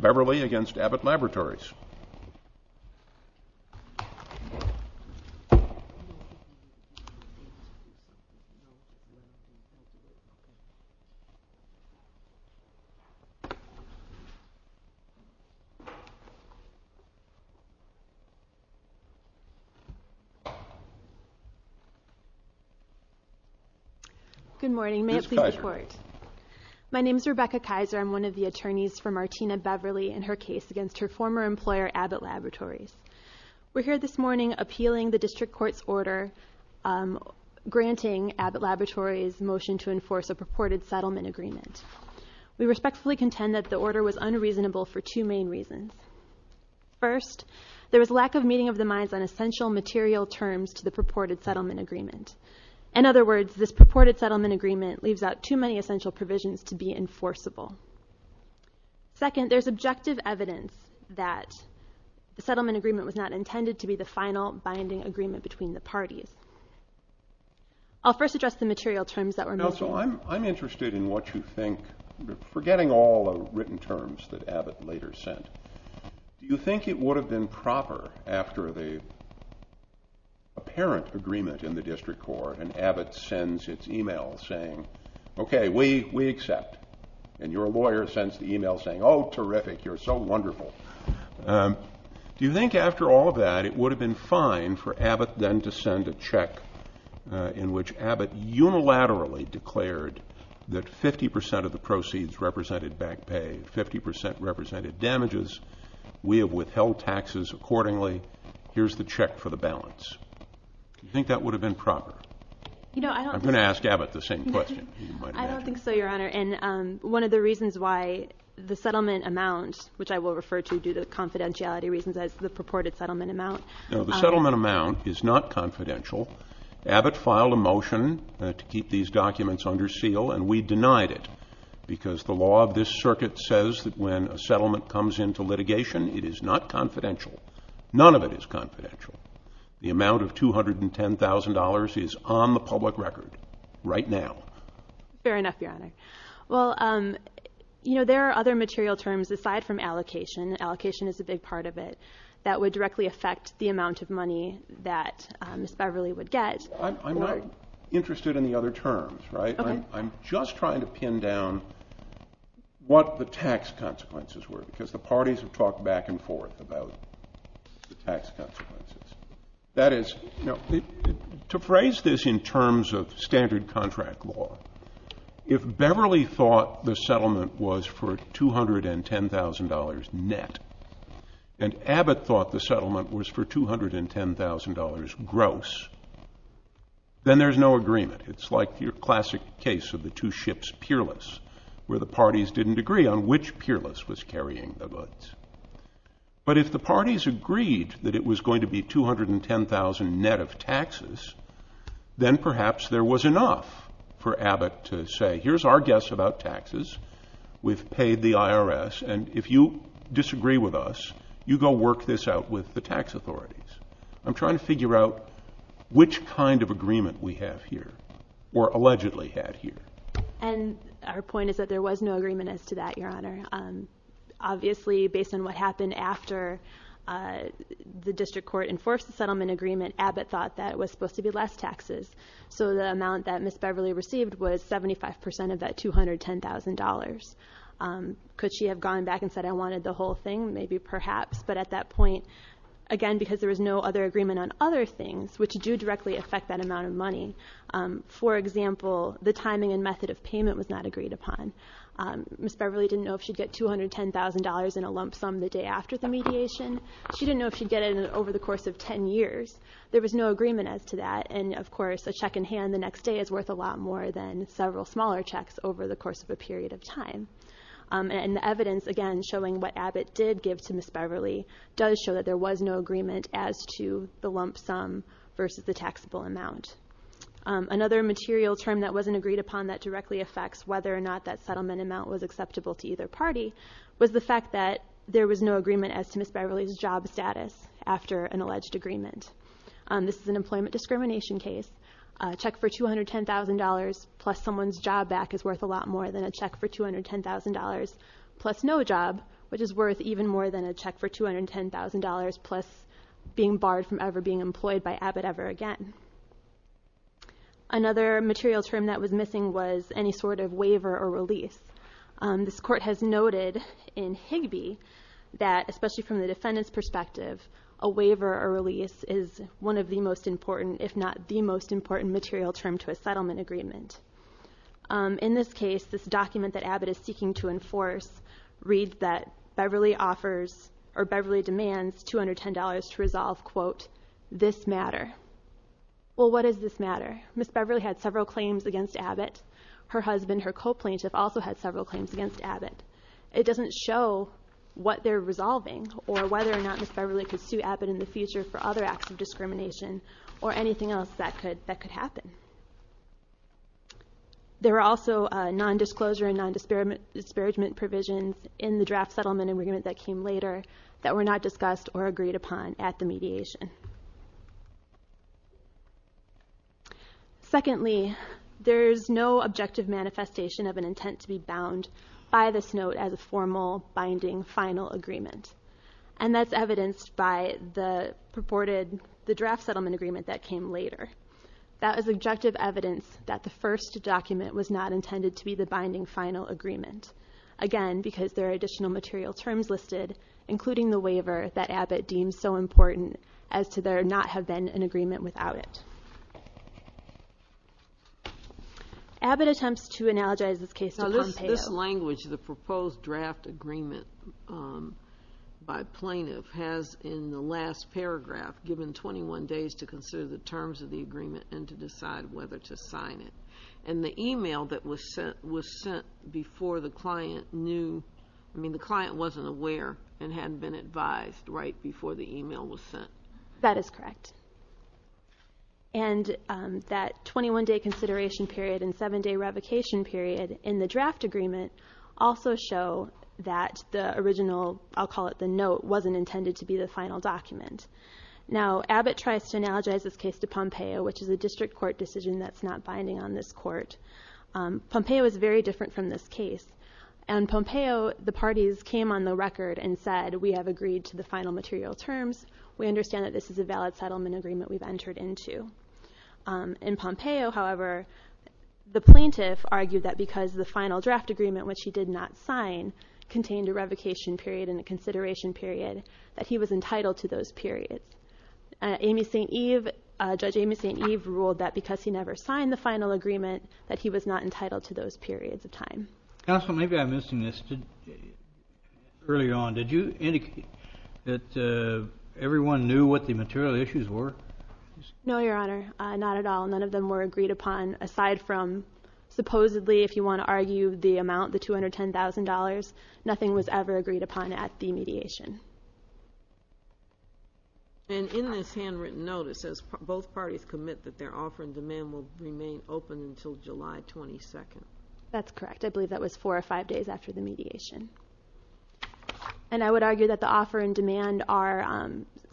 Beverly against Abbott Laboratories Good morning. May I please report? My name is Rebecca Kaiser. I'm one of the We're here this morning appealing the District Court's order granting Abbott Laboratories' motion to enforce a purported settlement agreement. We respectfully contend that the order was unreasonable for two main reasons. First, there was lack of meeting of the minds on essential material terms to the purported settlement agreement. In other words, this purported settlement agreement leaves out too many essential provisions to be enforceable. Second, there's objective evidence that the settlement agreement was not intended to be the final binding agreement between the parties. I'll first address the material terms that were made. Now, so I'm interested in what you think, forgetting all the written terms that Abbott later sent, do you think it would have been proper after the apparent agreement in the District Court and Abbott sends its email saying, okay, we accept, and your lawyer sends the email saying, oh, terrific, you're so wonderful, do you think after all of that it would have been fine for Abbott then to send a check in which Abbott unilaterally declared that 50% of the proceeds represented back pay, 50% represented damages, we have withheld taxes accordingly, here's the check for the balance. Do you think that would have been proper? I'm going to ask Abbott the same question. I don't think so, Your Honor, and one of the reasons why the settlement amount, which I will refer to due to confidentiality reasons as the purported settlement amount. No, the settlement amount is not confidential. Abbott filed a motion to keep these documents under seal and we denied it because the law of this circuit says that when a settlement comes into litigation, it is not confidential. None of it is confidential. The amount of $210,000 is on the public record right now. Fair enough, Your Honor. Well, you know, there are other material terms aside from allocation. Allocation is a big part of it. That would directly affect the amount of money that Ms. Beverly would get. I'm not interested in the other terms, right? Okay. I'm just trying to pin down what the tax consequences were because the parties have talked back and forth about the tax consequences. That is, to phrase this in terms of standard contract law, if Beverly thought the settlement was for $210,000 net and Abbott thought the settlement was for $210,000 gross, then there's no agreement. It's like your classic case of the two ships peerless where the parties didn't agree on which peerless was carrying the goods. But if the parties agreed that it was going to be $210,000 net of taxes, then perhaps there was enough for Abbott to say, here's our guess about taxes, we've paid the IRS, and if you disagree with us, you go work this out with the tax authorities. I'm trying to figure out which kind of agreement we have here or allegedly had here. And her point is that there was no agreement as to that, Your Honor. Obviously, based on what happened after the district court enforced the settlement agreement, Abbott thought that it was supposed to be less taxes. So the amount that Ms. Beverly received was 75% of that $210,000. Could she have gone back and said, I wanted the whole thing? Maybe, perhaps. But at that point, again, because there was no other agreement on other things, which do directly affect that amount of money. For example, the timing and method of payment was not agreed upon. Ms. Beverly didn't know if she'd get $210,000 in a lump sum the day after the mediation. She didn't know if she'd get it over the course of 10 years. There was no agreement as to that. And, of course, a check in hand the next day is worth a lot more than several smaller checks over the course of a period of time. And the evidence, again, showing what Abbott did give to Ms. Beverly does show that there was no agreement as to the lump sum versus the taxable amount. Another material term that wasn't agreed upon that directly affects whether or not that settlement amount was acceptable to either party was the fact that there was no agreement as to Ms. Beverly's job status after an alleged agreement. This is an employment discrimination case. A check for $210,000 plus someone's job back is worth a lot more than a check for $210,000, plus no job, which is worth even more than a check for $210,000, plus being barred from ever being employed by Abbott ever again. Another material term that was missing was any sort of waiver or release. This court has noted in Higbee that, especially from the defendant's perspective, a waiver or release is one of the most important, if not the most important material term to a settlement agreement. In this case, this document that Abbott is seeking to enforce reads that Beverly offers or Beverly demands $210 to resolve, quote, this matter. Well, what does this matter? Ms. Beverly had several claims against Abbott. Her husband, her co-plaintiff, also had several claims against Abbott. It doesn't show what they're resolving or whether or not Ms. Beverly could sue Abbott in the future for other acts of discrimination or anything else that could happen. There were also non-disclosure and non-disparagement provisions in the draft settlement agreement that came later that were not discussed or agreed upon at the mediation. Secondly, there's no objective manifestation of an intent to be bound by this note as a formal, binding, final agreement, and that's evidenced by the draft settlement agreement that came later. That is objective evidence that the first document was not intended to be the binding, final agreement, again because there are additional material terms listed, including the waiver that Abbott deemed so important as to there not have been an agreement without it. Abbott attempts to analogize this case to Pompeo. This language, the proposed draft agreement by plaintiff, has in the last paragraph given 21 days to consider the terms of the agreement and to decide whether to sign it. And the email that was sent was sent before the client knew. I mean, the client wasn't aware and hadn't been advised right before the email was sent. That is correct. And that 21-day consideration period and 7-day revocation period in the draft agreement also show that the original, I'll call it the note, wasn't intended to be the final document. Now, Abbott tries to analogize this case to Pompeo, which is a district court decision that's not binding on this court. Pompeo is very different from this case. In Pompeo, the parties came on the record and said, we have agreed to the final material terms. We understand that this is a valid settlement agreement we've entered into. In Pompeo, however, the plaintiff argued that because the final draft agreement, which he did not sign, contained a revocation period and a consideration period, that he was entitled to those periods. Judge Amy St. Eve ruled that because he never signed the final agreement, that he was not entitled to those periods of time. Counsel, maybe I'm missing this. Earlier on, did you indicate that everyone knew what the material issues were? No, Your Honor, not at all. None of them were agreed upon, aside from, supposedly, if you want to argue the amount, the $210,000. Nothing was ever agreed upon at the mediation. And in this handwritten note, it says, both parties commit that their offer and demand will remain open until July 22nd. That's correct. I believe that was four or five days after the mediation. And I would argue that the offer and demand are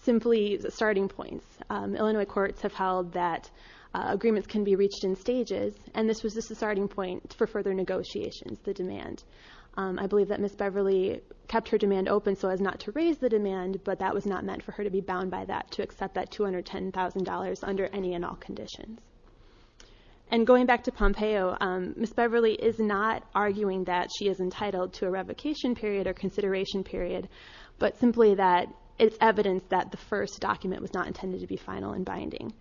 simply starting points. Illinois courts have held that agreements can be reached in stages, and this was just a starting point for further negotiations, the demand. I believe that Ms. Beverly kept her demand open so as not to raise the demand, but that was not meant for her to be bound by that, to accept that $210,000 under any and all conditions. And going back to Pompeo, Ms. Beverly is not arguing that she is entitled to a revocation period or consideration period, but simply that it's evidence that the first document was not intended to be final and binding.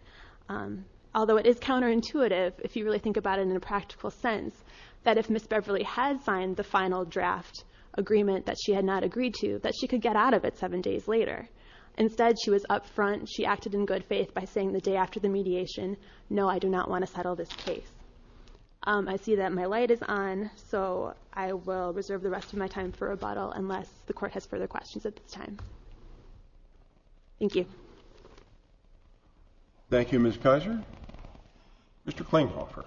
Although it is counterintuitive, if you really think about it in a practical sense, that if Ms. Beverly had signed the final draft agreement that she had not agreed to, that she could get out of it seven days later. Instead, she was up front. She acted in good faith by saying the day after the mediation, no, I do not want to settle this case. I see that my light is on, so I will reserve the rest of my time for rebuttal unless the court has further questions at this time. Thank you. Thank you, Ms. Kizer. Mr. Klinghofer.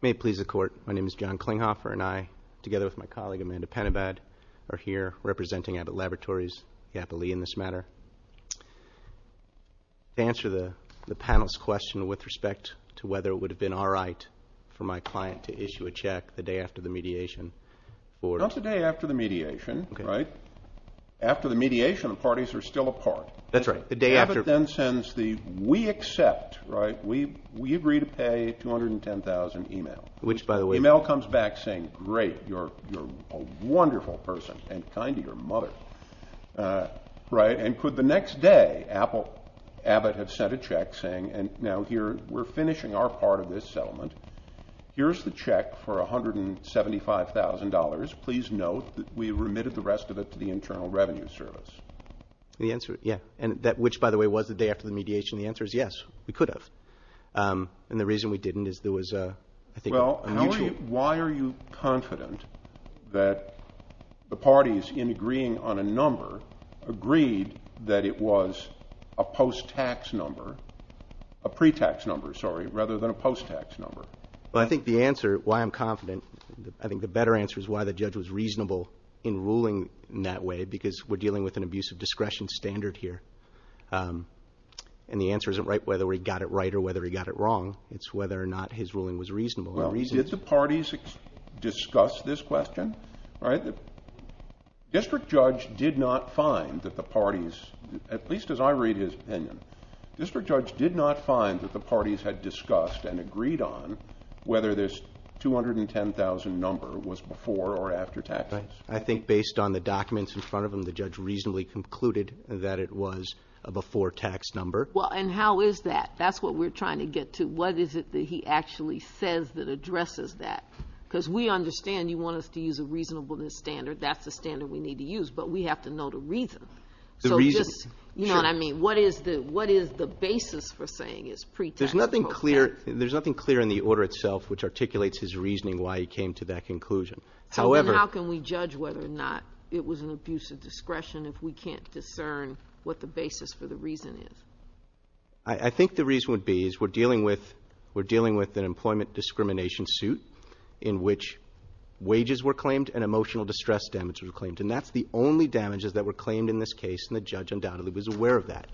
May it please the court, my name is John Klinghofer, and I, together with my colleague, Amanda Penabad, are here representing Abbott Laboratories, the Appellee in this matter. To answer the panel's question with respect to whether it would have been all right for my client to issue a check the day after the mediation, or Not the day after the mediation, right? After the mediation, the parties are still apart. That's right. The day after Abbott then sends the, we accept, right, we agree to pay $210,000 email. Which, by the way The email comes back saying, great, you're a wonderful person, and kind to your mother, right? And could the next day, Abbott have sent a check saying, now here, we're finishing our part of this settlement. Here's the check for $175,000. Please note that we remitted the rest of it to the Internal Revenue Service. The answer, yeah. Which, by the way, was the day after the mediation. The answer is yes, we could have. And the reason we didn't is there was, I think, a mutual Why are you confident that the parties, in agreeing on a number, agreed that it was a post-tax number, a pre-tax number, sorry, rather than a post-tax number? Well, I think the answer, why I'm confident, I think the better answer is why the judge was reasonable in ruling in that way, because we're dealing with an abuse of discretion standard here. And the answer isn't whether he got it right or whether he got it wrong. It's whether or not his ruling was reasonable. Well, did the parties discuss this question? District Judge did not find that the parties, at least as I read his opinion, District Judge did not find that the parties had discussed and agreed on whether this $210,000 number was before or after taxes. I think based on the documents in front of him, the judge reasonably concluded that it was a before-tax number. Well, and how is that? That's what we're trying to get to. What is it that he actually says that addresses that? Because we understand you want us to use a reasonableness standard. That's the standard we need to use, but we have to know the reason. The reason. You know what I mean? What is the basis for saying it's pre-tax? There's nothing clear in the order itself which articulates his reasoning why he came to that conclusion. Then how can we judge whether or not it was an abuse of discretion if we can't discern what the basis for the reason is? I think the reason would be is we're dealing with an employment discrimination suit in which wages were claimed and emotional distress damage was claimed, and that's the only damages that were claimed in this case, and the judge undoubtedly was aware of that.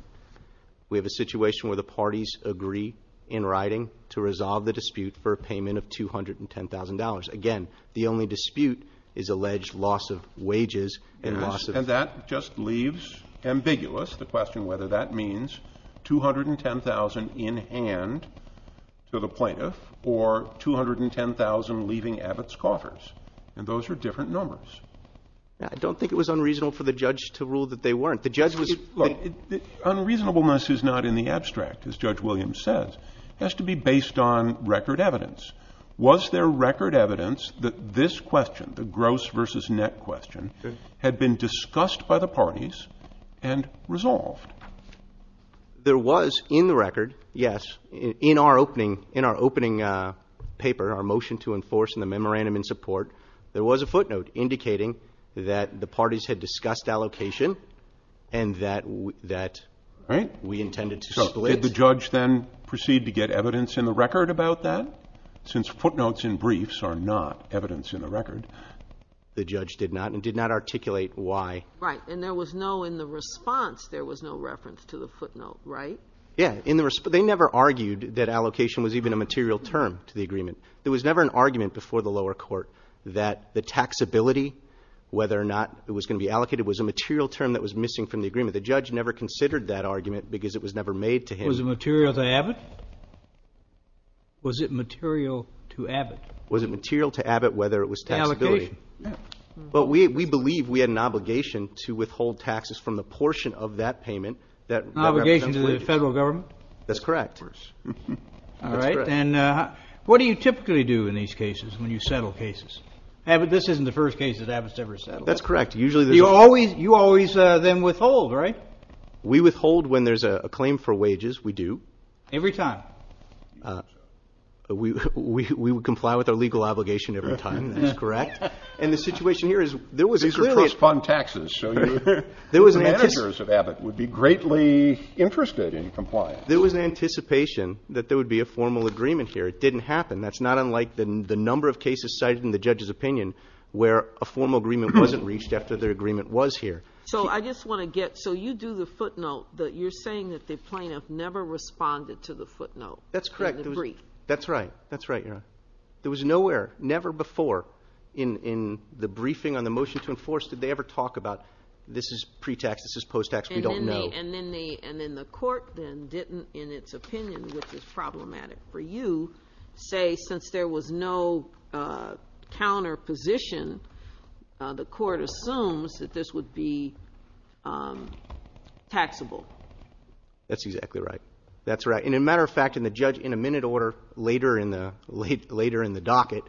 We have a situation where the parties agree in writing to resolve the dispute for a payment of $210,000. Again, the only dispute is alleged loss of wages. And that just leaves ambiguous the question whether that means $210,000 in hand to the plaintiff or $210,000 leaving Abbott's coffers, and those are different numbers. I don't think it was unreasonable for the judge to rule that they weren't. Unreasonableness is not in the abstract, as Judge Williams says. It has to be based on record evidence. Was there record evidence that this question, the gross versus net question, had been discussed by the parties and resolved? There was in the record, yes, in our opening paper, our motion to enforce in the memorandum in support, there was a footnote indicating that the parties had discussed allocation and that we intended to split. Did the judge then proceed to get evidence in the record about that? Since footnotes and briefs are not evidence in the record. The judge did not and did not articulate why. Right. And there was no, in the response, there was no reference to the footnote, right? Yeah. They never argued that allocation was even a material term to the agreement. There was never an argument before the lower court that the taxability, whether or not it was going to be allocated, was a material term that was missing from the agreement. The judge never considered that argument because it was never made to him. Was it material to Abbott? Was it material to Abbott? Was it material to Abbott whether it was taxability? Allocation. But we believe we had an obligation to withhold taxes from the portion of that payment. An obligation to the federal government? That's correct. All right. And what do you typically do in these cases when you settle cases? This isn't the first case that Abbott's ever settled. That's correct. You always then withhold, right? We withhold when there's a claim for wages. We do. Every time. We would comply with our legal obligation every time. That's correct. And the situation here is there was clearly a ---- These are trust fund taxes. So the managers of Abbott would be greatly interested in compliance. There was an anticipation that there would be a formal agreement here. It didn't happen. That's not unlike the number of cases cited in the judge's opinion where a formal agreement wasn't reached after the agreement was here. So I just want to get ---- So you do the footnote that you're saying that the plaintiff never responded to the footnote. That's correct. That's right. That's right, Your Honor. There was nowhere, never before, in the briefing on the motion to enforce, did they ever talk about this is pre-tax, this is post-tax, we don't know. And then the court then didn't, in its opinion, which is problematic for you, say since there was no counter position, the court assumes that this would be taxable. That's exactly right. That's right. And a matter of fact, in a minute order later in the docket,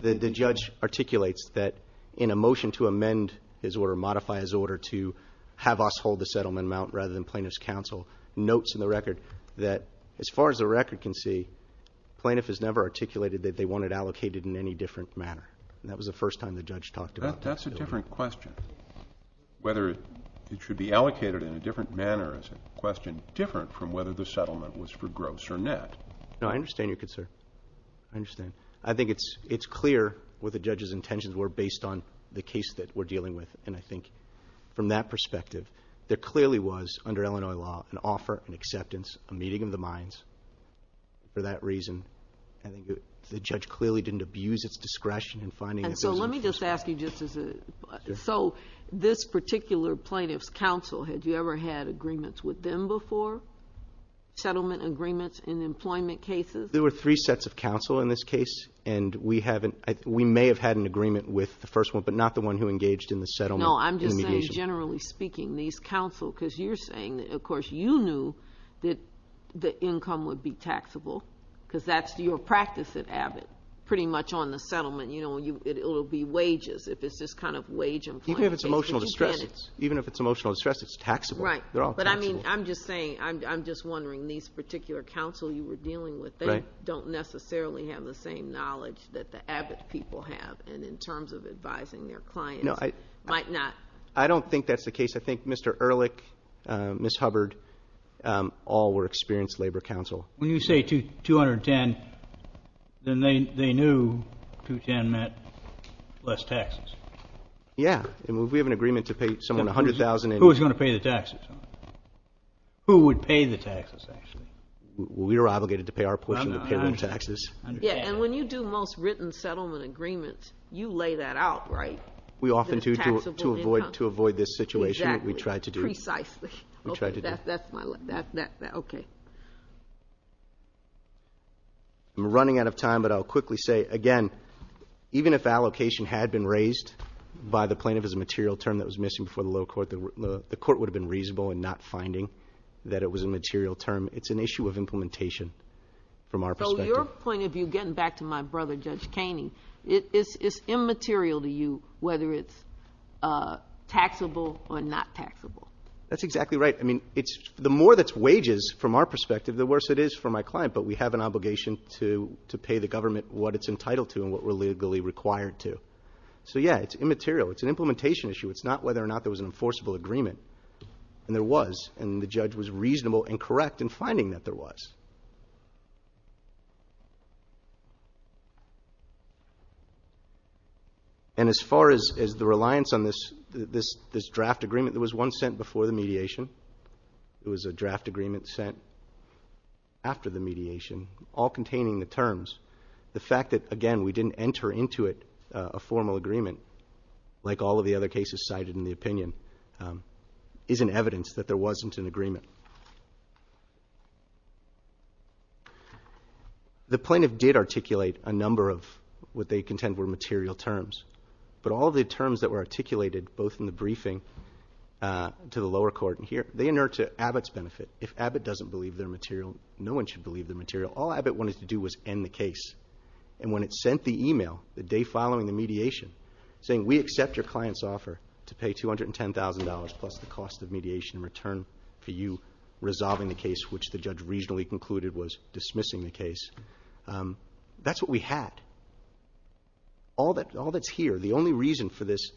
the judge articulates that in a motion to amend his order, modify his order to have us hold the settlement amount rather than plaintiff's counsel, notes in the record that as far as the record can see, plaintiff has never articulated that they want it allocated in any different manner. And that was the first time the judge talked about taxability. That's a different question. Whether it should be allocated in a different manner is a question different from whether the settlement was for gross or net. No, I understand your concern. I understand. I think it's clear what the judge's intentions were based on the case that we're dealing with. And I think from that perspective, there clearly was, under Illinois law, an offer, an acceptance, a meeting of the minds. For that reason, the judge clearly didn't abuse its discretion in finding it. And so let me just ask you just as a, so this particular plaintiff's counsel, had you ever had agreements with them before, settlement agreements in employment cases? There were three sets of counsel in this case, and we may have had an agreement with the first one, but not the one who engaged in the settlement. No, I'm just saying, generally speaking, these counsel, because you're saying, of course, you knew that the income would be taxable, because that's your practice at Abbott, pretty much on the settlement. It will be wages if it's this kind of wage employment case. Even if it's emotional distress, it's taxable. Right. But I mean, I'm just saying, I'm just wondering, these particular counsel you were dealing with, they don't necessarily have the same knowledge that the Abbott people have, and in terms of advising their clients, might not. I don't think that's the case. I think Mr. Ehrlich, Ms. Hubbard, all were experienced labor counsel. When you say 210, then they knew 210 meant less taxes. Yeah. We have an agreement to pay someone $100,000. Who was going to pay the taxes? Who would pay the taxes, actually? We were obligated to pay our portion of the payroll taxes. Yeah, and when you do most written settlement agreements, you lay that out, right? We often do to avoid this situation. Exactly. We try to do. Precisely. We try to do. Okay. I'm running out of time, but I'll quickly say, again, even if allocation had been raised by the plaintiff as a material term that was missing before the low court, the court would have been reasonable in not finding that it was a material term. It's an issue of implementation from our perspective. So your point of view, getting back to my brother, Judge Kaney, it's immaterial to you whether it's taxable or not taxable. That's exactly right. I mean, the more that's wages from our perspective, the worse it is for my client, but we have an obligation to pay the government what it's entitled to and what we're legally required to. So, yeah, it's immaterial. It's an implementation issue. It's not whether or not there was an enforceable agreement, and there was, and the judge was reasonable and correct in finding that there was. And as far as the reliance on this draft agreement, there was one sent before the mediation. It was a draft agreement sent after the mediation, all containing the terms. The fact that, again, we didn't enter into it a formal agreement, like all of the other cases cited in the opinion, is an evidence that there wasn't an agreement. The plaintiff did articulate a number of what they contend were material terms, but all the terms that were articulated both in the briefing to the lower court and here, they inert to Abbott's benefit. If Abbott doesn't believe they're material, no one should believe they're material. All Abbott wanted to do was end the case. And when it sent the email the day following the mediation saying, we accept your client's offer to pay $210,000 plus the cost of mediation in return for you resolving the case, which the judge reasonably concluded was dismissing the case, that's what we had. All that's here, the only reason for this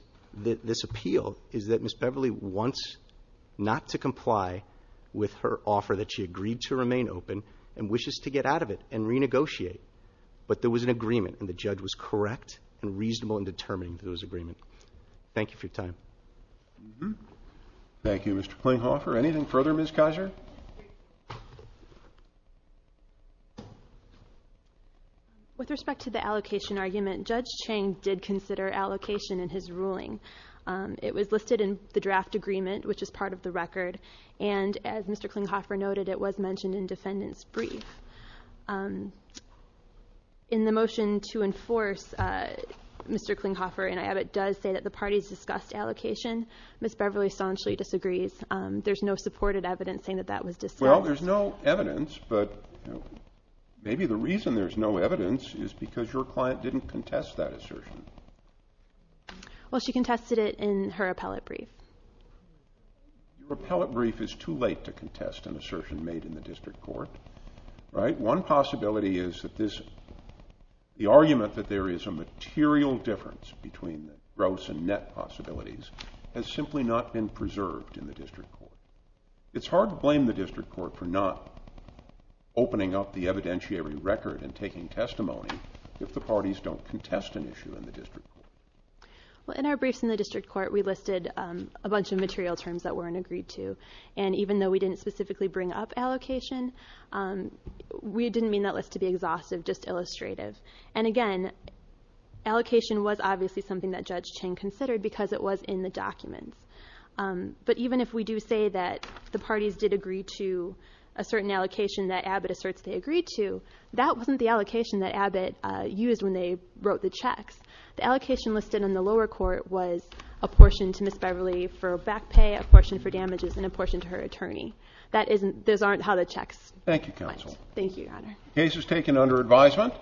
appeal, is that Ms. Beverly wants not to comply with her offer that she agreed to remain open and wishes to get out of it and renegotiate. But there was an agreement, and the judge was correct and reasonable in determining those agreements. Thank you for your time. Thank you, Mr. Klinghoffer. Anything further, Ms. Kaiser? With respect to the allocation argument, Judge Chang did consider allocation in his ruling. It was listed in the draft agreement, which is part of the record, and as Mr. Klinghoffer noted, it was mentioned in defendant's brief. In the motion to enforce, Mr. Klinghoffer and I have it does say that the parties discussed allocation. Ms. Beverly staunchly disagrees. There's no supported evidence saying that that was discussed. Well, there's no evidence, but maybe the reason there's no evidence is because your client didn't contest that assertion. Well, she contested it in her appellate brief. Your appellate brief is too late to contest an assertion made in the district court. One possibility is that the argument that there is a material difference between the gross and net possibilities has simply not been preserved in the district court. It's hard to blame the district court for not opening up the evidentiary record and taking testimony if the parties don't contest an issue in the district court. In our briefs in the district court, we listed a bunch of material terms that weren't agreed to, and even though we didn't specifically bring up allocation, we didn't mean that list to be exhaustive, just illustrative. And again, allocation was obviously something that Judge Chang considered because it was in the documents. But even if we do say that the parties did agree to a certain allocation that Abbott asserts they agreed to, that wasn't the allocation that Abbott used when they wrote the checks. The allocation listed in the lower court was a portion to Ms. Beverly for back pay, a portion for damages, and a portion to her attorney. Those aren't how the checks went. Thank you, Counsel. Thank you, Your Honor. The case is taken under advisement.